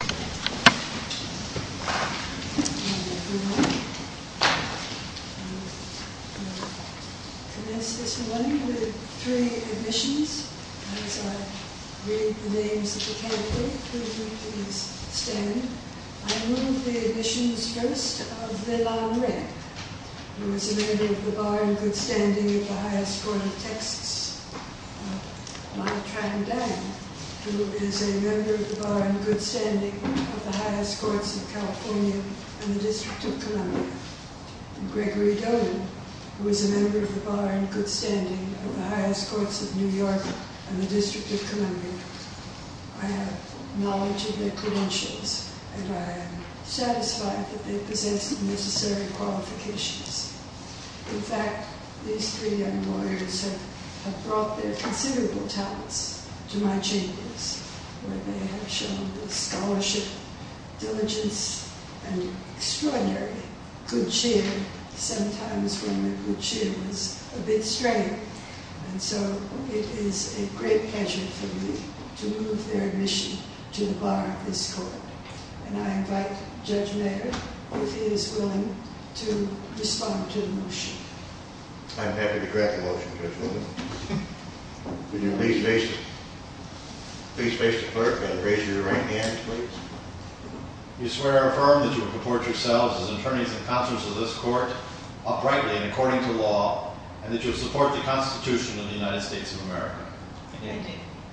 Good morning, everyone. I will commence this morning with three admissions. As I read the names of the candidates, would you please stand? I will move the admissions first of Leilan Ren, who is a member of the Bar and Good Standing of the Highest Court of Texas, Ma Trang Dang, who is a member of the Bar and Good Standing of the Highest Courts of California and the District of Columbia, and Gregory Doden, who is a member of the Bar and Good Standing of the Highest Courts of New York and the District of Columbia. I have knowledge of their credentials and I am satisfied that they possess the necessary qualifications. In fact, these three young lawyers have brought their considerable talents to my chambers, where they have shown the scholarship, diligence, and extraordinary good cheer, sometimes when the good cheer was a bit strange. And so it is a great pleasure for me to move their admission to the Bar of this court. And I invite Judge Mayer, if he is willing, to respond to the motion. I am happy to correct the motion, Judge Wilkinson. Would you please face the clerk and raise your right hand, please? You swear or affirm that you will purport yourselves as attorneys and counselors of this court, uprightly and according to law, and that you will support the Constitution of the United States of America. I do.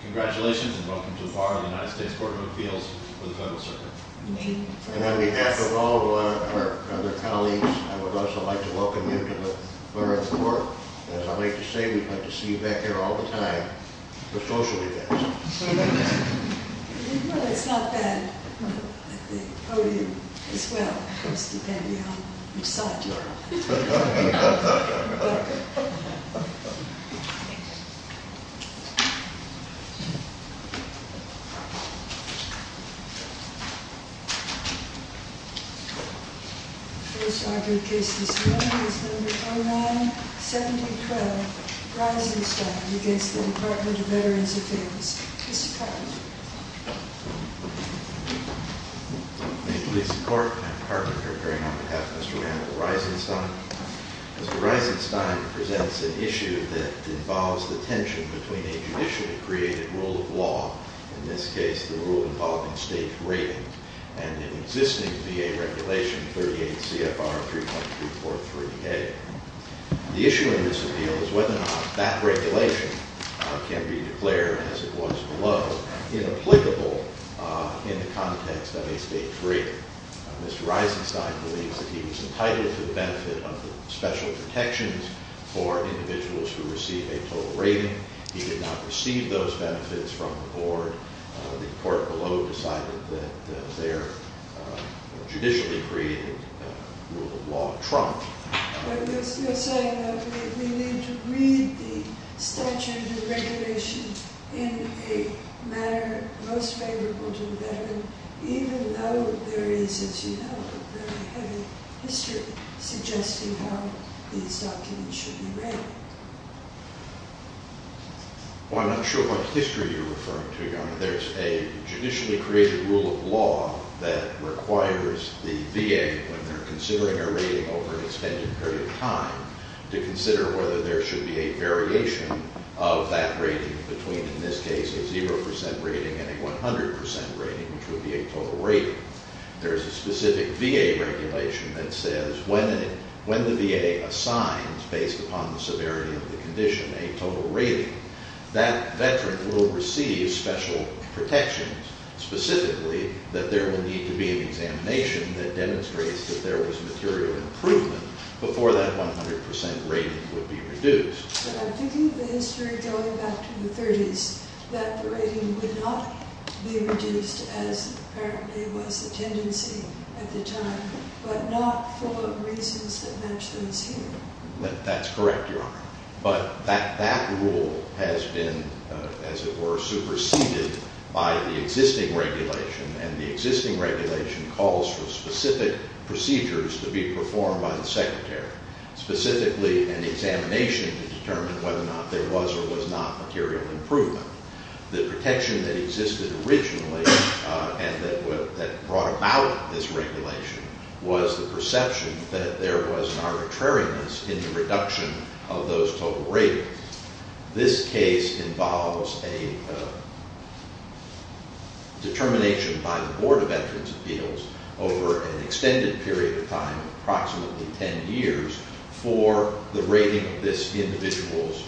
Congratulations and welcome to the Bar of the United States Court of Appeals for the Federal Circuit. Thank you. And on behalf of all of our other colleagues, I would also like to welcome you to the Bar of the Court. And as I like to say, we like to see you back here all the time for social events. Well, it's not bad at the podium as well, just depending on which side you are on. Thank you. The first argued case this morning is number 09712, Risingstone, against the Department of Veterans Affairs. Mr. Carpenter. Thank you, Mr. Court. I'm Carpenter, appearing on behalf of Mr. Randall Risingstone. Mr. Risingstone presents an issue that involves the tension between a judicially created rule of law, in this case the rule involving state rating, and an existing VA regulation, 38 CFR 3.343A. The issue in this appeal is whether or not that regulation can be declared, as it was below, inapplicable in the context of a state rating. Mr. Risingstone believes that he was entitled to the benefit of special protections for individuals who receive a total rating. He did not receive those benefits from the board. The court below decided that their judicially created rule of law trumped. You're saying that we need to read the statute and the regulation in a manner most favorable to the veteran, even though there is, as you know, a very heavy history suggesting how these documents should be read. Well, I'm not sure what history you're referring to, Your Honor. There's a judicially created rule of law that requires the VA, when they're considering a rating over an extended period of time, to consider whether there should be a variation of that rating between, in this case, a 0% rating and a 100% rating, which would be a total rating. There's a specific VA regulation that says when the VA assigns, based upon the severity of the condition, a total rating, that veteran will receive special protections, specifically that there will need to be an examination that demonstrates that there was material improvement before that 100% rating would be reduced. But I'm thinking of the history going back to the 30s, that the rating would not be reduced as apparently was the tendency at the time, but not for reasons that match those here. That's correct, Your Honor. But that rule has been, as it were, superseded by the existing regulation, and the existing regulation calls for specific procedures to be performed by the Secretary, specifically an examination to determine whether or not there was or was not material improvement. The protection that existed originally and that brought about this regulation was the perception that there was an arbitrariness in the reduction of those total ratings. This case involves a determination by the Board of Veterans' Appeals over an extended period of time, approximately ten years, for the rating of this individual's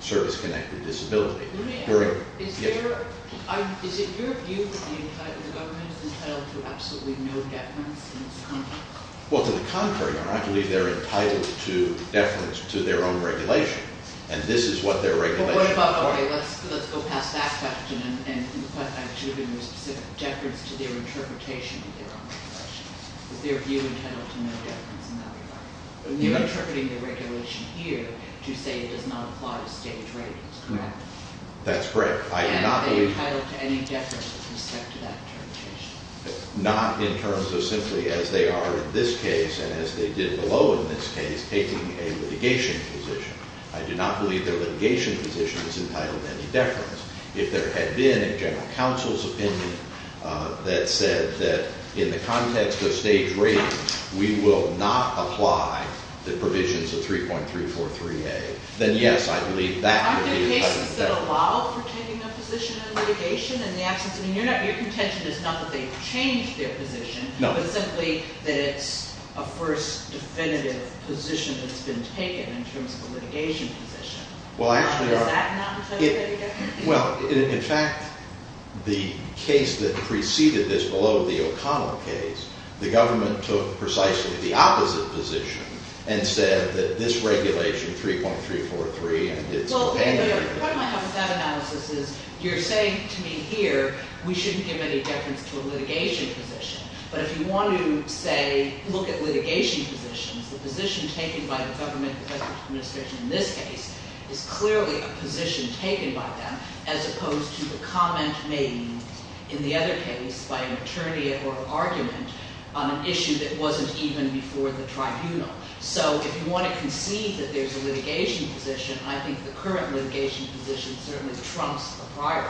service-connected disability. Is it your view that the government is entitled to absolutely no deference in this contract? Well, to the contrary, Your Honor. I believe they're entitled to deference to their own regulation, and this is what their regulation requires. But what about, okay, let's go past that question and the question I was giving was specific deference to their interpretation of their own regulation. Is their view entitled to no deference in that regard? You're interpreting the regulation here to say it does not apply to state ratings, correct? That's correct. And are they entitled to any deference with respect to that interpretation? Not in terms of simply, as they are in this case and as they did below in this case, taking a litigation position. I do not believe their litigation position is entitled to any deference. If there had been a general counsel's opinion that said that in the context of state ratings, we will not apply the provisions of 3.343A, then yes, I believe that could be- Aren't there cases that allow for taking a position in litigation in the absence- I mean, your contention is not that they've changed their position, but simply that it's a first definitive position that's been taken in terms of a litigation position. Well, I actually- Is that not entitled to any deference? Well, in fact, the case that preceded this below, the O'Connell case, the government took precisely the opposite position and said that this regulation, 3.343, it's okay- Part of my problem with that analysis is you're saying to me here, we shouldn't give any deference to a litigation position. But if you want to, say, look at litigation positions, the position taken by the government, the federal administration in this case, is clearly a position taken by them as opposed to the comment made in the other case by an attorney or argument on an issue that wasn't even before the tribunal. So if you want to concede that there's a litigation position, I think the current litigation position certainly trumps the prior.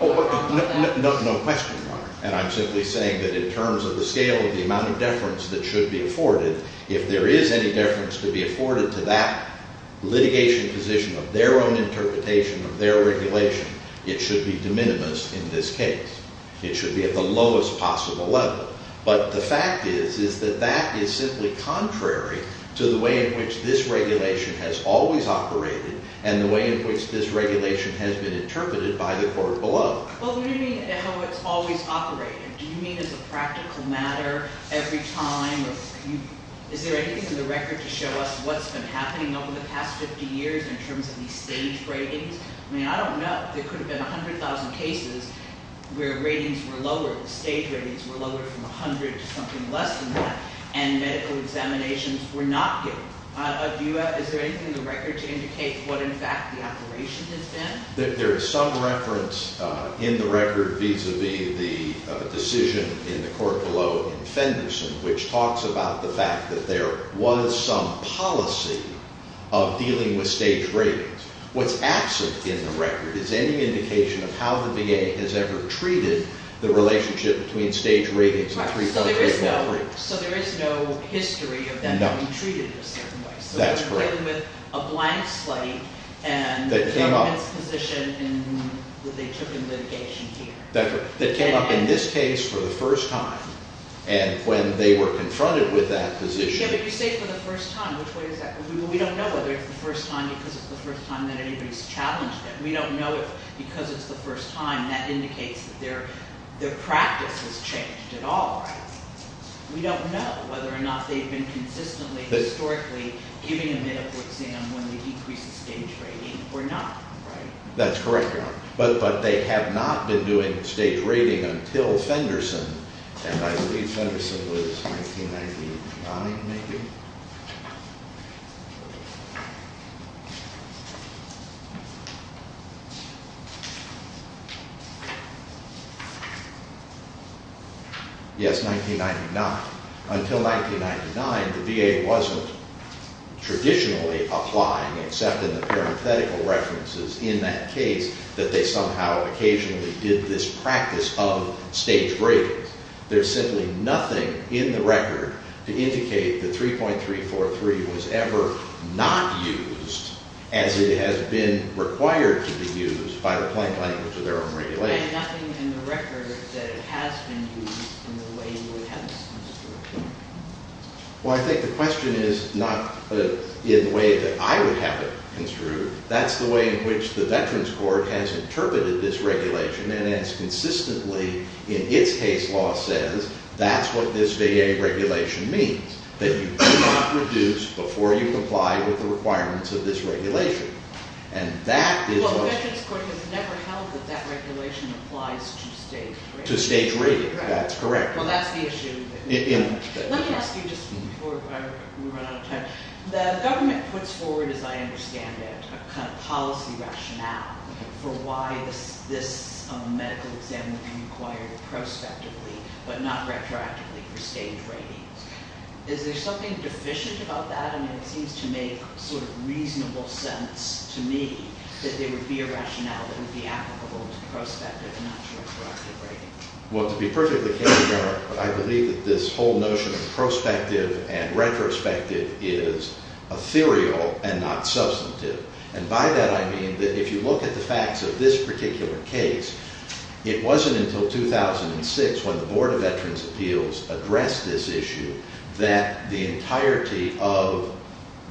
No question, Your Honor. And I'm simply saying that in terms of the scale of the amount of deference that should be afforded, if there is any deference to be afforded to that litigation position of their own interpretation, of their regulation, it should be de minimis in this case. It should be at the lowest possible level. But the fact is, is that that is simply contrary to the way in which this regulation has always operated and the way in which this regulation has been interpreted by the court below. Well, what do you mean how it's always operated? Do you mean as a practical matter every time? Is there anything in the record to show us what's been happening over the past 50 years in terms of these staged ratings? I mean, I don't know. There could have been 100,000 cases where ratings were lowered, or the staged ratings were lowered from 100 to something less than that, and medical examinations were not given. Is there anything in the record to indicate what, in fact, the operation has been? There is some reference in the record vis-a-vis the decision in the court below in Fenderson, which talks about the fact that there was some policy of dealing with staged ratings. What's absent in the record is any indication of how the VA has ever treated the relationship between staged ratings and treatment of people. So there is no history of that being treated in a certain way? No. That's correct. So they're dealing with a blank slate, and it's a position that they took in litigation here. That's correct. That came up in this case for the first time, and when they were confronted with that position Yeah, but you say for the first time. Which way is that? We don't know whether it's the first time because it's the first time that anybody's challenged it. We don't know if because it's the first time that indicates that their practice has changed at all. We don't know whether or not they've been consistently, historically, giving a medical exam when they decrease the staged rating or not. That's correct, Your Honor. But they have not been doing staged rating until Fenderson. And I believe Fenderson was 1999, maybe? Yes, 1999. Until 1999, the VA wasn't traditionally applying, except in the parenthetical references in that case, that they somehow occasionally did this practice of staged ratings. There's simply nothing in the record to indicate that 3.343 was ever not used as it has been required to be used by the plain language of their own regulation. And nothing in the record that it has been used in the way you would have it construed. Well, I think the question is not in the way that I would have it construed. That's the way in which the Veterans Court has interpreted this regulation and has consistently, in its case law, says that's what this VA regulation means. That you cannot reduce before you comply with the requirements of this regulation. And that is what... Well, the Veterans Court has never held that that regulation applies to staged ratings. To staged rating, that's correct. Well, that's the issue. Let me ask you, just before we run out of time, the government puts forward, as I understand it, a kind of policy rationale for why this medical exam would be required prospectively, but not retroactively for staged ratings. Is there something deficient about that? I mean, it seems to make sort of reasonable sense to me that there would be a rationale that would be applicable to prospective and not to retroactive ratings. Well, to be perfectly candid, Your Honor, I believe that this whole notion of prospective and retrospective is ethereal and not substantive. And by that I mean that if you look at the facts of this particular case, it wasn't until 2006 when the Board of Veterans' Appeals addressed this issue that the entirety of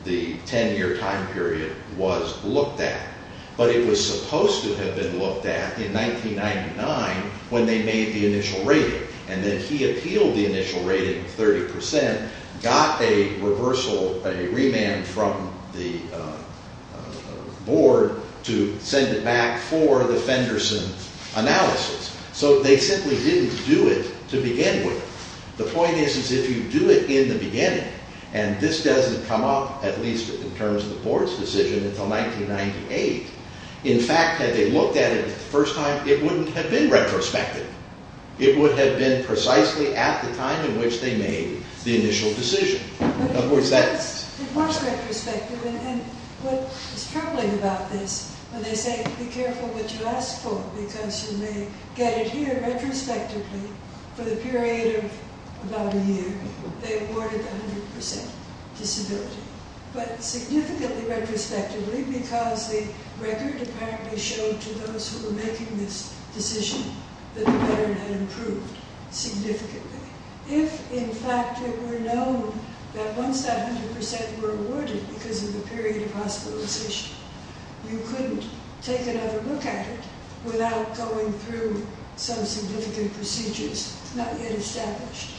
the 10-year time period was looked at. But it was supposed to have been looked at in 1999 when they made the initial rating. And then he appealed the initial rating of 30%, got a reversal, a remand from the Board to send it back for the Fenderson analysis. So they simply didn't do it to begin with. The point is, is if you do it in the beginning, and this doesn't come up, at least in terms of the Board's decision, until 1998, in fact, had they looked at it the first time, it wouldn't have been retrospective. It would have been precisely at the time in which they made the initial decision. Of course, that's... It was retrospective. And what is troubling about this, when they say, be careful what you ask for because you may get it here retrospectively, for the period of about a year, they awarded 100% disability. But significantly retrospectively because the record apparently showed to those who were making this decision that the veteran had improved significantly. If, in fact, it were known that once that 100% were awarded because of the period of hospitalization, you couldn't take another look at it without going through some significant procedures not yet established.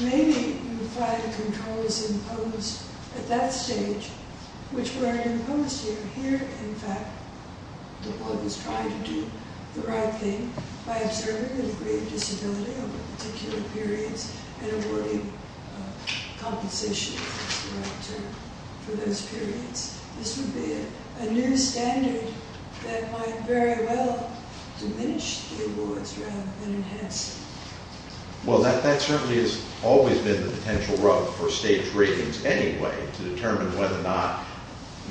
Maybe you find controls imposed at that stage, which weren't imposed here. In fact, the Board was trying to do the right thing by observing the degree of disability over particular periods and awarding compensation for those periods. This would be a new standard that might very well diminish the awards rather than enhance them. Well, that certainly has always been the potential route for state's ratings anyway to determine whether or not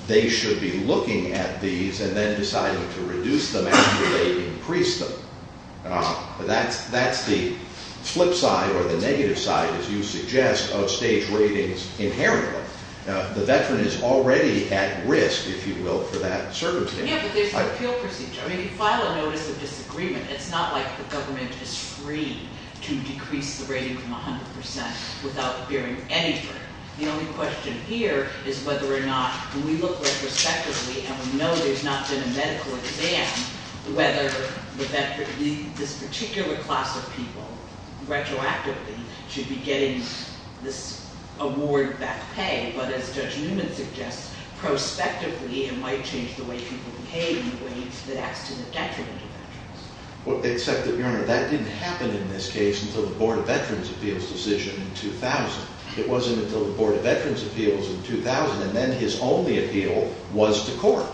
they should be looking at these and then deciding to reduce them after they increase them. That's the flip side or the negative side, as you suggest, of state's ratings inherently. The veteran is already at risk, if you will, for that circumstance. Yeah, but there's an appeal procedure. I mean, you file a notice of disagreement. It's not like the government is free to decrease the rating from 100% without bearing any burden. The only question here is whether or not, when we look retrospectively, and we know there's not been a medical exam, whether this particular class of people, retroactively, should be getting this award back pay. But as Judge Newman suggests, prospectively, it might change the way people behave in ways that acts to the detriment of veterans. Except that, Your Honor, that didn't happen in this case until the Board of Veterans' Appeals decision in 2000. It wasn't until the Board of Veterans' Appeals in 2000, and then his only appeal was to court.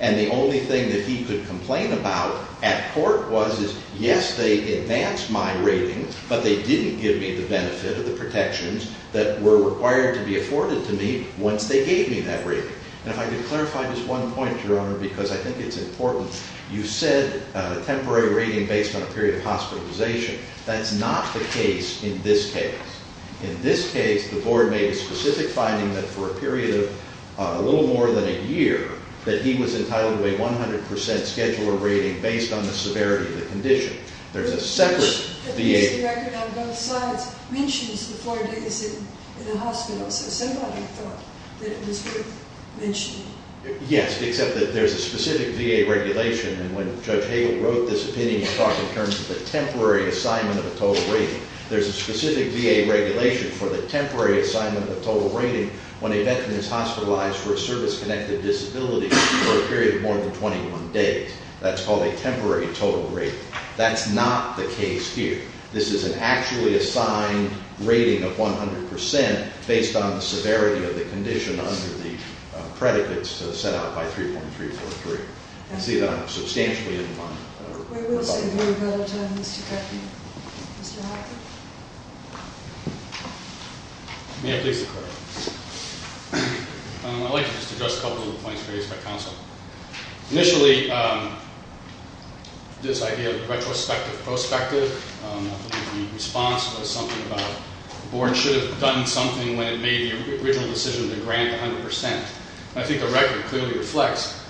And the only thing that he could complain about at court was, is yes, they advanced my rating, but they didn't give me the benefit of the protections that were required to be afforded to me once they gave me that rating. And if I could clarify just one point, Your Honor, because I think it's important. You said a temporary rating based on a period of hospitalization. That's not the case in this case. In this case, the Board made a specific finding that for a period of a little more than a year, that he was entitled to a 100% scheduler rating based on the severity of the condition. There's a separate VA... The record on both sides mentions the four days in a hospital, so somebody thought that it was worth mentioning. Yes, except that there's a specific VA regulation, and when Judge Hagel wrote this opinion, he talked in terms of a temporary assignment of a total rating. There's a specific VA regulation for the temporary assignment of a total rating when a veteran is hospitalized for a service-connected disability for a period of more than 21 days. That's called a temporary total rating. That's not the case here. This is an actually assigned rating of 100% based on the severity of the condition under the predicates set out by 3.343. I see that I'm substantially in line. We will save you a lot of time, Mr. Koeppen. Mr. Hoffman? May I please declare? I'd like to just address a couple of the points raised by counsel. Initially, this idea of retrospective-prospective, the response was something about the Board should have done something when it made the original decision to grant 100%. I think the record clearly reflects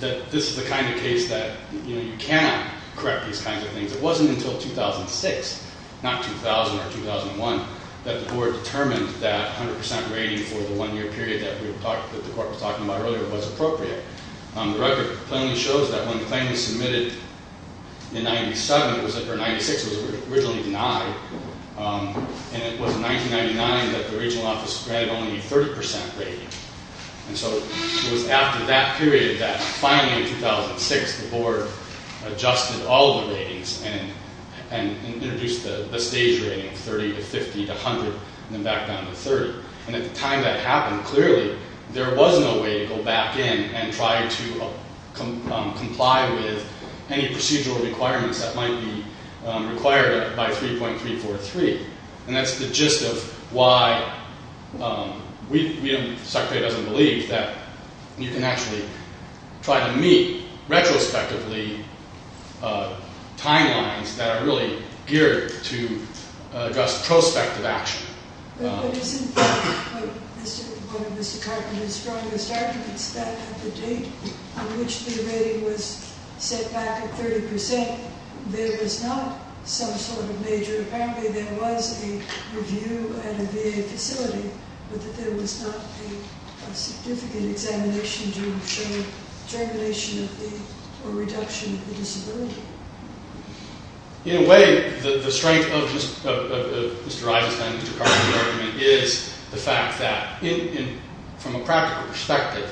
that this is the kind of case that you cannot correct these kinds of things. It wasn't until 2006, not 2000 or 2001, that the Board determined that 100% rating for the one-year period that the Court was talking about earlier was appropriate. The record clearly shows that when the claim was submitted in 97, or 96, it was originally denied, and it was in 1999 that the Regional Office granted only a 30% rating. It was after that period that, finally, in 2006, the Board adjusted all the ratings and introduced the stage rating, 30 to 50 to 100, and then back down to 30. At the time that happened, clearly, there was no way to go back in and try to comply with any procedural requirements that might be required by 3.343. That's the gist of why the Secretary doesn't believe that you can actually try to meet retrospectively timelines that are really geared to address prospective action. But isn't one of Mr. Cartman's strongest arguments that at the date on which the rating was set back at 30%, there was not some sort of major... There was a review at a VA facility, but that there was not a significant examination to show regulation or reduction of the disability? In a way, the strength of Mr. Eisenstein and Mr. Cartman's argument is the fact that, from a practical perspective,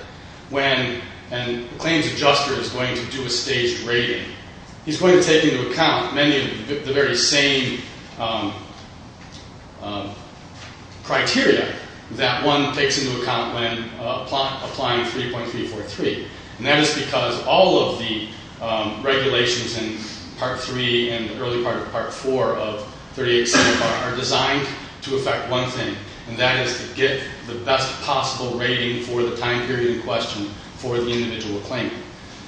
when a claims adjuster is going to do a staged rating, he's going to take into account many of the very same criteria that one takes into account when applying 3.343, and that is because all of the regulations in Part 3 and the early part of Part 4 of 38C are designed to affect one thing, and that is to get the best possible rating for the time period in question for the individual claimant.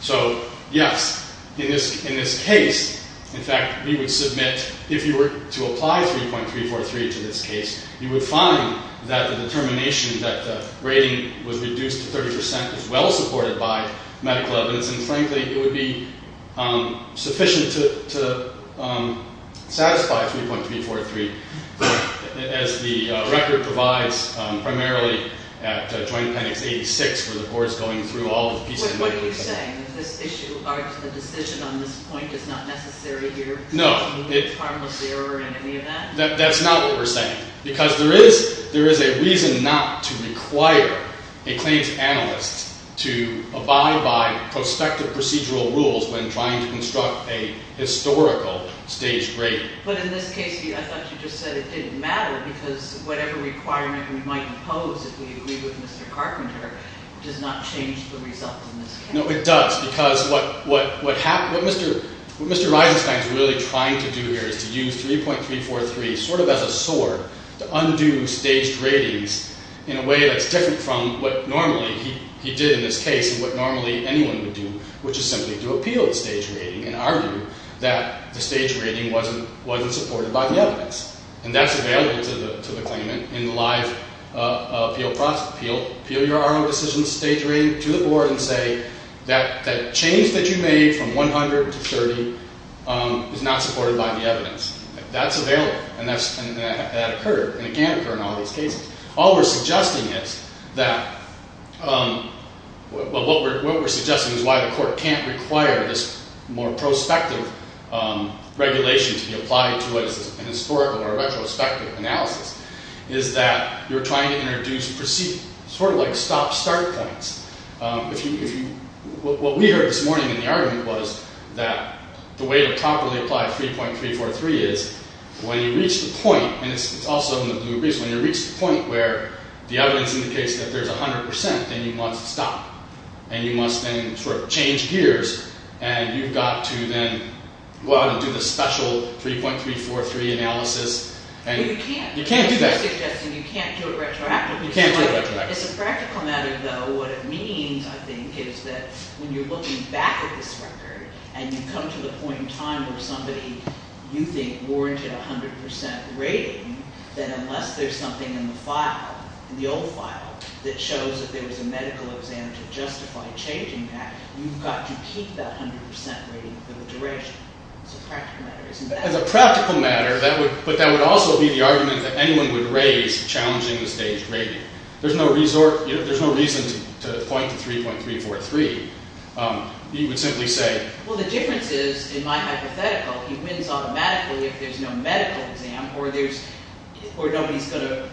So, yes, in this case, in fact, we would submit, if you were to apply 3.343 to this case, you would find that the determination that the rating was reduced to 30% is well supported by medical evidence, and frankly, it would be sufficient to satisfy 3.343, as the record provides, primarily at Joint Appendix 86, where the board is going through all the pieces of medical evidence. What are you saying? This issue, the decision on this point is not necessary here? No. It's harmless error in any event? That's not what we're saying, because there is a reason not to require a claims analyst to abide by prospective procedural rules when trying to construct a historical staged rating. But in this case, I thought you just said it didn't matter because whatever requirement we might impose, if we agree with Mr. Carpenter, does not change the result in this case. No, it does, because what Mr. Eisenstein is really trying to do here is to use 3.343 sort of as a sword to undo staged ratings in a way that's different from what normally he did in this case and what normally anyone would do, which is simply to appeal the staged rating and argue that the staged rating wasn't supported by the evidence. And that's available to the claimant in the live appeal process. Appeal your own decision staged rating to the board and say that change that you made from 100 to 30 is not supported by the evidence. That's available, and that occurred, and it can occur in all these cases. All we're suggesting is that... What we're suggesting is why the court can't require this more prospective regulation to be applied to a historical or retrospective analysis is that you're trying to introduce perceived... sort of like stop-start claims. What we heard this morning in the argument was that the way to properly apply 3.343 is when you reach the point, and it's also in the blue briefs, when you reach the point where the evidence indicates that there's 100%, then you must stop, and you must then sort of change gears, and you've got to then go out and do the special 3.343 analysis. You can't do that. You can't do it retroactively. It's a practical matter, though. What it means, I think, is that when you're looking back at this record and you come to the point in time where somebody, you think, warranted a 100% rating, then unless there's something in the file, in the old file, that shows that there was a medical exam to justify changing that, you've got to keep that 100% rating for the duration. It's a practical matter, isn't it? As a practical matter, but that would also be the argument that anyone would raise challenging the staged rating. There's no reason to point to 3.343. You would simply say... Well, the difference is, in my hypothetical, he wins automatically if there's no medical exam or nobody's going to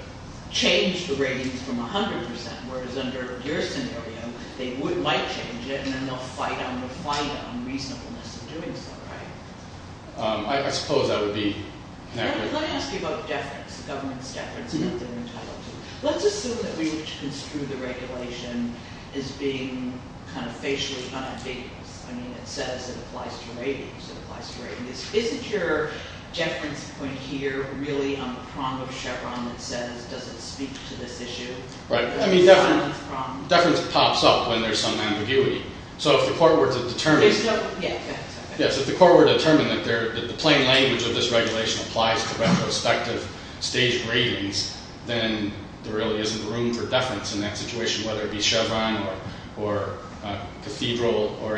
change the ratings from 100%, whereas under your scenario, they might change it and then they'll fight on the fight on reasonableness of doing so, right? I suppose that would be... Let me ask you about deference. The government's deference about their entitlement. Let's assume that we construe the regulation as being kind of facially unambiguous. I mean, it says it applies to ratings, it applies to ratings. Isn't your deference point here really on the prong of Chevron that says, does it speak to this issue? Right. I mean, deference pops up when there's some ambiguity. So if the court were to determine... Yes, if the court were to determine that the plain language of this regulation applies to retrospective staged ratings, then there really isn't room for deference in that situation, whether it be Chevron or Cathedral or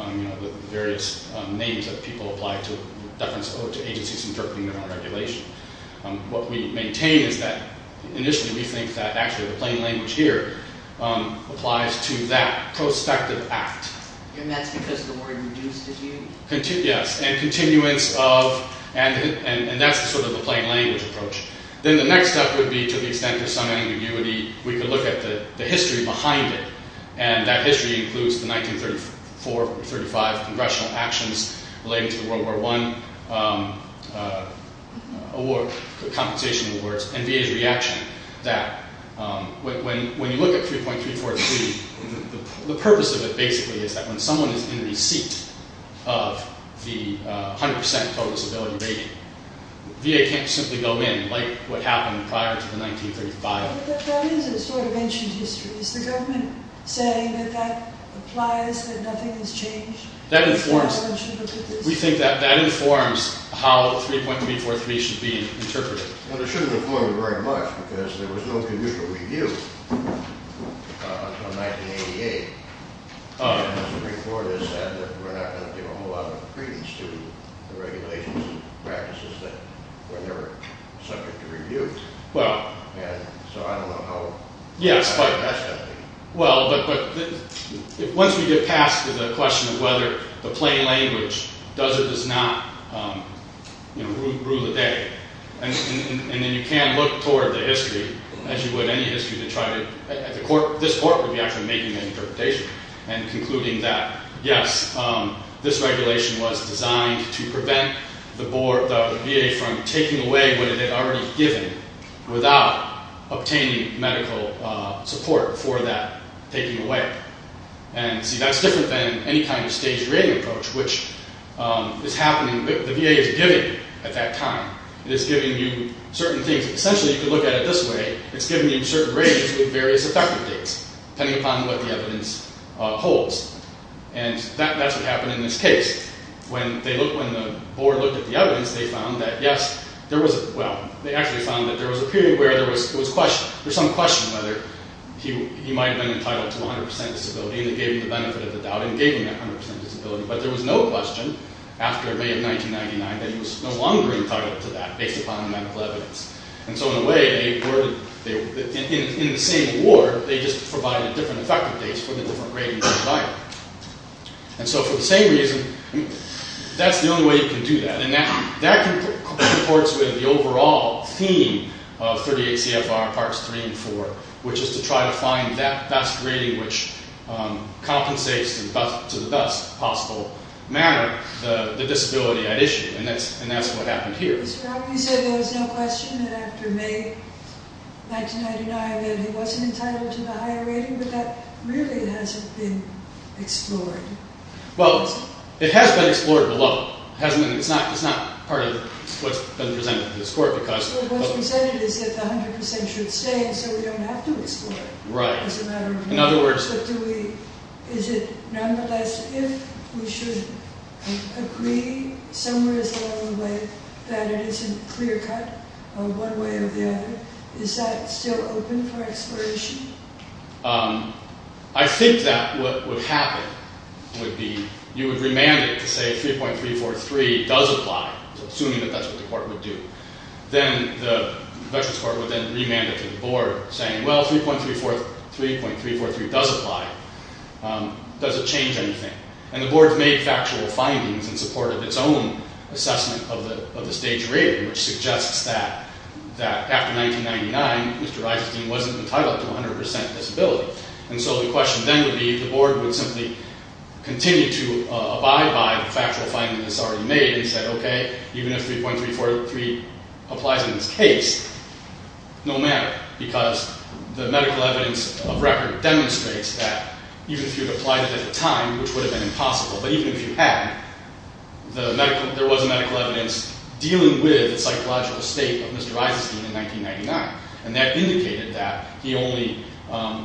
the various names that people apply to deference or to agencies interpreting their own regulation. What we maintain is that, initially, we think that actually the plain language here applies to that prospective act. And that's because the word reduced is used? Yes, and continuance of... And that's sort of the plain language approach. Then the next step would be, to the extent of some ambiguity, we could look at the history behind it. And that history includes the 1934-35 congressional actions relating to the World War I award... ...and VA's reaction that, when you look at 3.343, the purpose of it, basically, is that when someone is in the seat of the 100% total disability rating, VA can't simply go in, like what happened prior to the 1935... But that is a sort of ancient history. Is the government saying that that applies, that nothing has changed? That informs... We think that that informs how 3.343 should be interpreted. Well, it shouldn't inform it very much, because there was no conditional review until 1988. And as the report has said, we're not going to give a whole lot of credence to the regulations and practices that were never subject to review. Well... And so I don't know how... Yes, but... ...that's something. Well, but once we get past the question of whether the plain language does or does not, you know, rue the day... And then you can look toward the history, as you would any history, to try to... This court would be actually making an interpretation and concluding that, yes, this regulation was designed to prevent the VA from taking away what it had already given without obtaining medical support for that taking away. And, see, that's different than any kind of staged rating approach, which is happening... But the VA is giving at that time. It is giving you certain things. Essentially, if you look at it this way, it's giving you certain ratings with various effective dates, depending upon what the evidence holds. And that's what happened in this case. When they looked... When the board looked at the evidence, they found that, yes, there was... Well, they actually found that there was a period where there was some question whether he might have been entitled to 100% disability, and it gave him the benefit of the doubt and gave him that 100% disability. But there was no question after May of 1999 that he was no longer entitled to that based upon the medical evidence. And so, in a way, in the same award, they just provided different effective dates for the different ratings they provided. And so, for the same reason, that's the only way you can do that. And that supports with the overall theme of 38 CFR Parts 3 and 4, which is to try to find that best rating which compensates, to the best possible manner, the disability at issue. And that's what happened here. You said there was no question that after May 1999 that he wasn't entitled to the higher rating, but that really hasn't been explored. Well, it has been explored to a level. It's not part of what's been presented to this court because... What's been said is that the 100% should stay, so we don't have to explore it. Right. In other words... But is it nonetheless if we should agree somewhere along the way that it isn't clear-cut one way or the other? Is that still open for exploration? I think that what would happen would be you would remand it to say 3.343 does apply, assuming that that's what the court would do. Then the Veterans Court would then remand it to the board, saying, well, 3.343 does apply. Does it change anything? And the board's made factual findings in support of its own assessment of the stage rating, which suggests that after 1999, Mr. Eisenstein wasn't entitled to 100% disability. And so the question then would be if the board would simply continue to abide by the factual findings it's already made and said, OK, even if 3.343 applies in this case, no matter, because the medical evidence of record demonstrates that even if you had applied it at the time, which would have been impossible, but even if you had, there was medical evidence dealing with the psychological state of Mr. Eisenstein in 1999, and that indicated that he only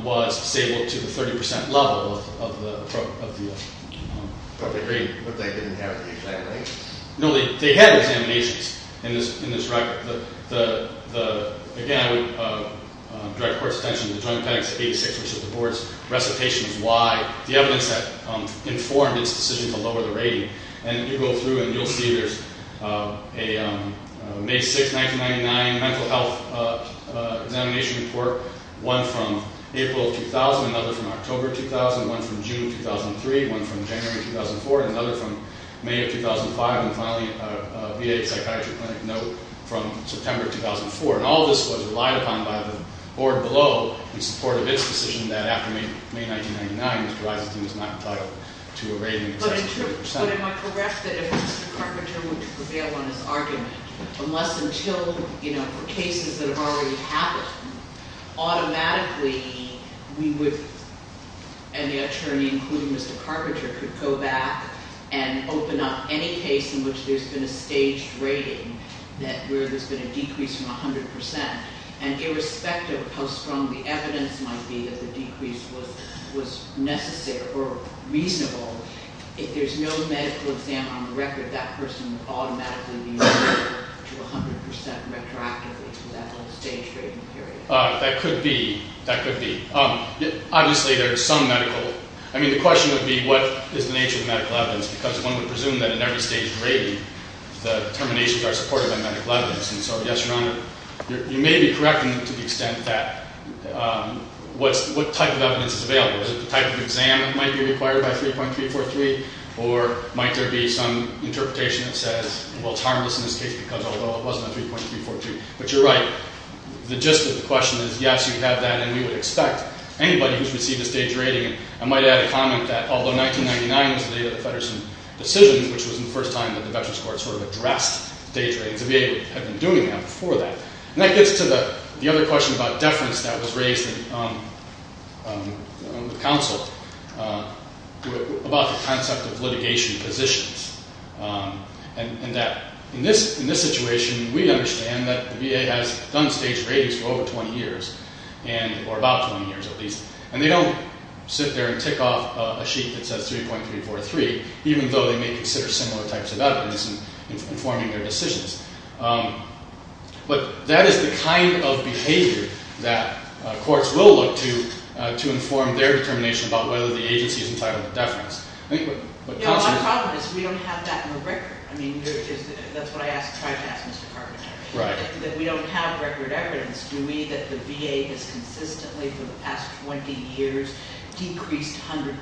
was stable to the 30% level of the appropriate rating. But they didn't have the examinations? No, they had examinations in this record. Again, I would direct the court's attention to Joint Penalty 86, which is the board's recitation of why the evidence that informed its decision to lower the rating. And you go through, and you'll see there's a May 6, 1999 mental health examination report, one from April 2000, another from October 2000, one from June 2003, one from January 2004, and another from May of 2005, and finally a VA psychiatry clinic note from September 2004. And all of this was relied upon by the board below in support of its decision that after May 1999, Mr. Eisenstein was not entitled to a rating in excess of 30%. But am I correct that if Mr. Carpenter were to prevail on his argument, unless until cases that have already happened, automatically we would, and the attorney, including Mr. Carpenter, could go back and open up any case in which there's been a staged rating where there's been a decrease from 100%. And irrespective of how strong the evidence might be that the decrease was necessary or reasonable, if there's no medical exam on the record, that person would automatically be referred to 100% retroactively for that whole staged rating period. That could be. That could be. Obviously, there are some medical... I mean, the question would be, what is the nature of the medical evidence? Because one would presume that in every staged rating, the determinations are supported by medical evidence. And so, yes, Your Honor, you may be correcting to the extent that... What type of evidence is available? Is it the type of exam that might be required by 3.343? Or might there be some interpretation that says, well, it's harmless in this case because although it wasn't on 3.343. But you're right. The gist of the question is, yes, you have that, and we would expect anybody who's received a staged rating... I might add a comment that although 1999 was the date of the Feddersen decision, which was the first time that the Veterans Court sort of addressed staged ratings, the VA had been doing that before that. And that gets to the other question about deference that was raised with counsel about the concept of litigation positions, and that in this situation, we understand that the VA has done staged ratings for over 20 years, or about 20 years at least, and they don't sit there and tick off a sheet that says 3.343, even though they may consider similar types of evidence in informing their decisions. But that is the kind of behavior that courts will look to to inform their determination about whether the agency is entitled to deference. I think what counsel... Yeah, well, my problem is we don't have that on the record. I mean, that's what I try to ask Mr. Carpenter. Right. That we don't have record evidence. Do we that the VA has consistently for the past 20 years decreased 100%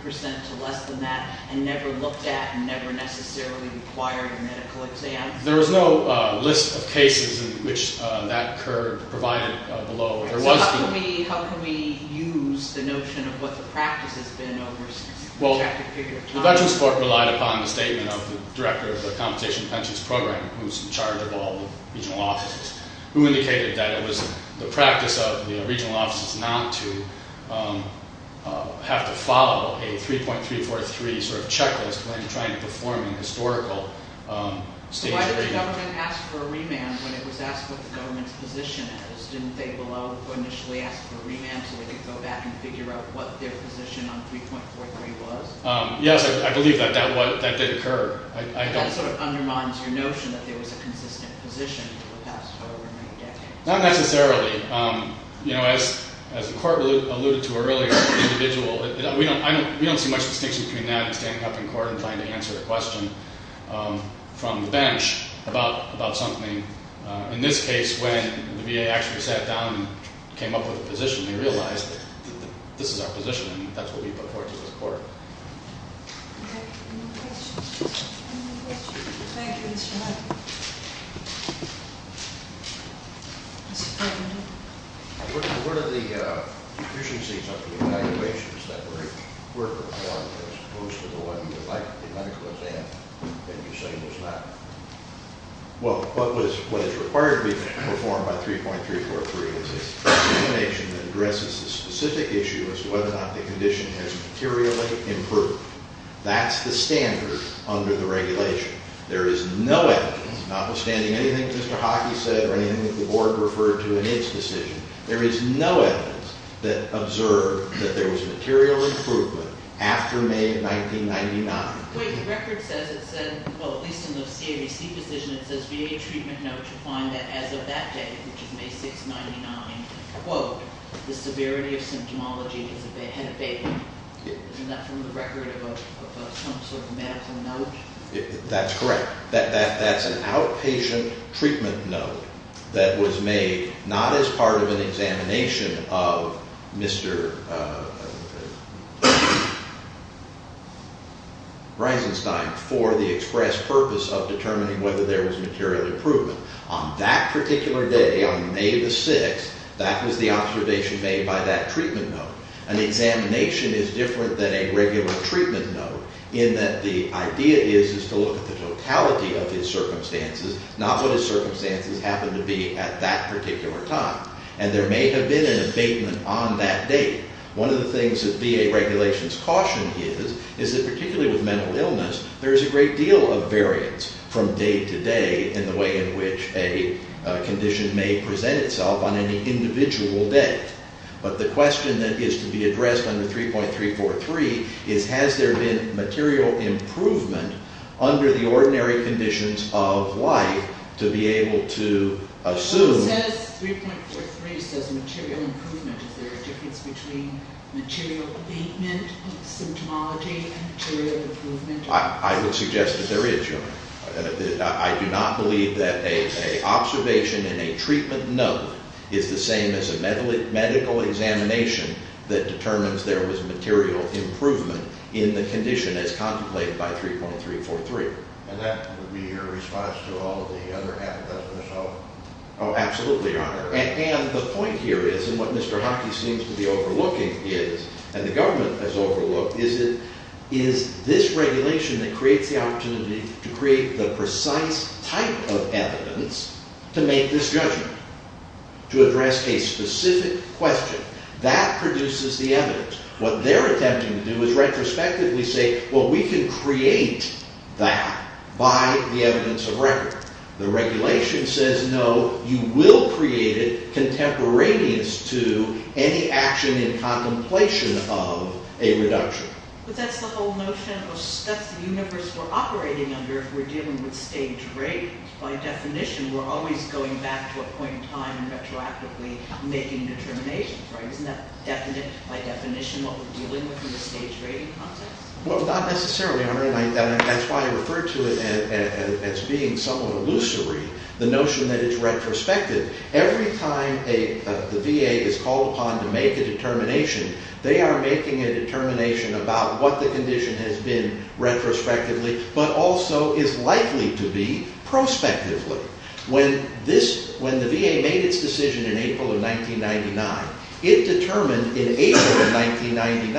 to less than that and never looked at and never necessarily required a medical exam? There was no list of cases in which that occurred provided below. So how can we use the notion of what the practice has been over a certain period of time? Well, the veterans court relied upon the statement of the director of the Compensation Pensions Program, who's in charge of all the regional offices, who indicated that it was the practice of the regional offices not to have to follow a 3.343 sort of checklist when trying to perform a historical state treatment. Why did the government ask for a remand when it was asked what the government's position is? Didn't they below initially ask for a remand so they could go back and figure out what their position on 3.43 was? Yes, I believe that that did occur. That sort of undermines your notion that there was a consistent position for the past over 90 decades. Not necessarily. You know, as the court alluded to earlier, the individual... We don't see much distinction between that and standing up in court and trying to answer a question from the bench about something. In this case, when the VA actually sat down and came up with a position, they realized that this is our position and that's what we put forward to this court. Okay, any questions? Any questions? Thank you, Mr. Harkin. Mr. Kagan. What are the deficiencies of the evaluations that were performed as opposed to the one you would like a medical exam and you say was not? Well, what is required to be performed by 3.343 is an explanation that addresses the specific issue as to whether or not the condition has materially improved. That's the standard under the regulation. There is no evidence, notwithstanding anything Mr. Harkin said or anything that the board referred to in its decision, there is no evidence that observed that there was material improvement after May of 1999. Wait, the record says it said, well, at least in the CAVC position, it says VA treatment note you find that as of that day, which is May 6, 1999, quote, the severity of symptomology had abated. Isn't that from the record of some sort of medical note? That's correct. That's an outpatient treatment note that was made not as part of an examination of Mr. Reisenstein for the express purpose of determining whether there was material improvement. On that particular day, on May 6, that was the observation made by that treatment note. An examination is different than a regular treatment note in that the idea is to look at the totality of his circumstances, not what his circumstances happened to be at that particular time. And there may have been an abatement on that day. One of the things that VA regulations caution is is that particularly with mental illness, there is a great deal of variance from day to day in the way in which a condition may present itself on any individual day. But the question that is to be addressed under 3.343 is has there been material improvement under the ordinary conditions of life to be able to assume. It says 3.43 says material improvement. Is there a difference between material abatement of symptomology and material improvement? I would suggest that there is, Your Honor. I do not believe that an observation in a treatment note is the same as a medical examination that determines there was material improvement in the condition as contemplated by 3.343. And that would be your response to all of the other advertisements, Your Honor? Oh, absolutely, Your Honor. And the point here is, and what Mr. Hockey seems to be overlooking is, and the government has overlooked, is this regulation that creates the opportunity to create the precise type of evidence to make this judgment, to address a specific question. That produces the evidence. What they're attempting to do is retrospectively say, well, we can create that by the evidence of record. The regulation says, no, you will create it contemporaneous to any action in contemplation of a reduction. But that's the whole notion. That's the universe we're operating under if we're dealing with stage rate. By definition, we're always going back to a point in time retroactively making determinations, right? Isn't that by definition what we're dealing with in the stage rating process? Well, not necessarily, Your Honor. And that's why I refer to it as being somewhat illusory, the notion that it's retrospective. Every time the VA is called upon to make a determination, they are making a determination about what the condition has been retrospectively, but also is likely to be prospectively. When the VA made its decision in April of 1999, it determined in April of 1999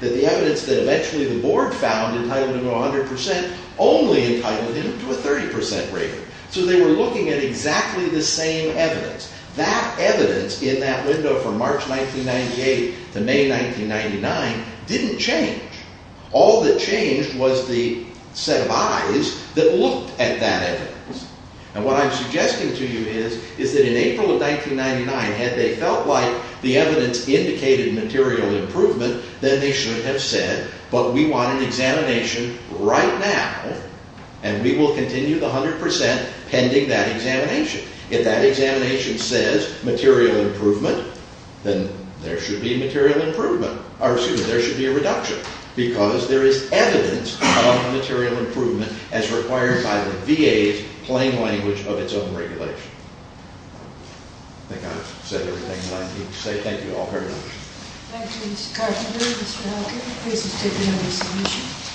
that the evidence that eventually the board found entitled to 100% only entitled him to a 30% rating. So they were looking at exactly the same evidence. That evidence in that window from March 1998 to May 1999 didn't change. All that changed was the set of eyes that looked at that evidence. And what I'm suggesting to you is that in April of 1999, had they felt like the evidence indicated material improvement, then they should have said, but we want an examination right now, and we will continue the 100% pending that examination. If that examination says material improvement, then there should be a reduction because there is evidence of material improvement as required by the VA's plain language of its own regulation. I think I've said everything that I need to say. Thank you all very much. Thank you, Mr. Carpenter, Mr. Elkins. Please, let's take another submission.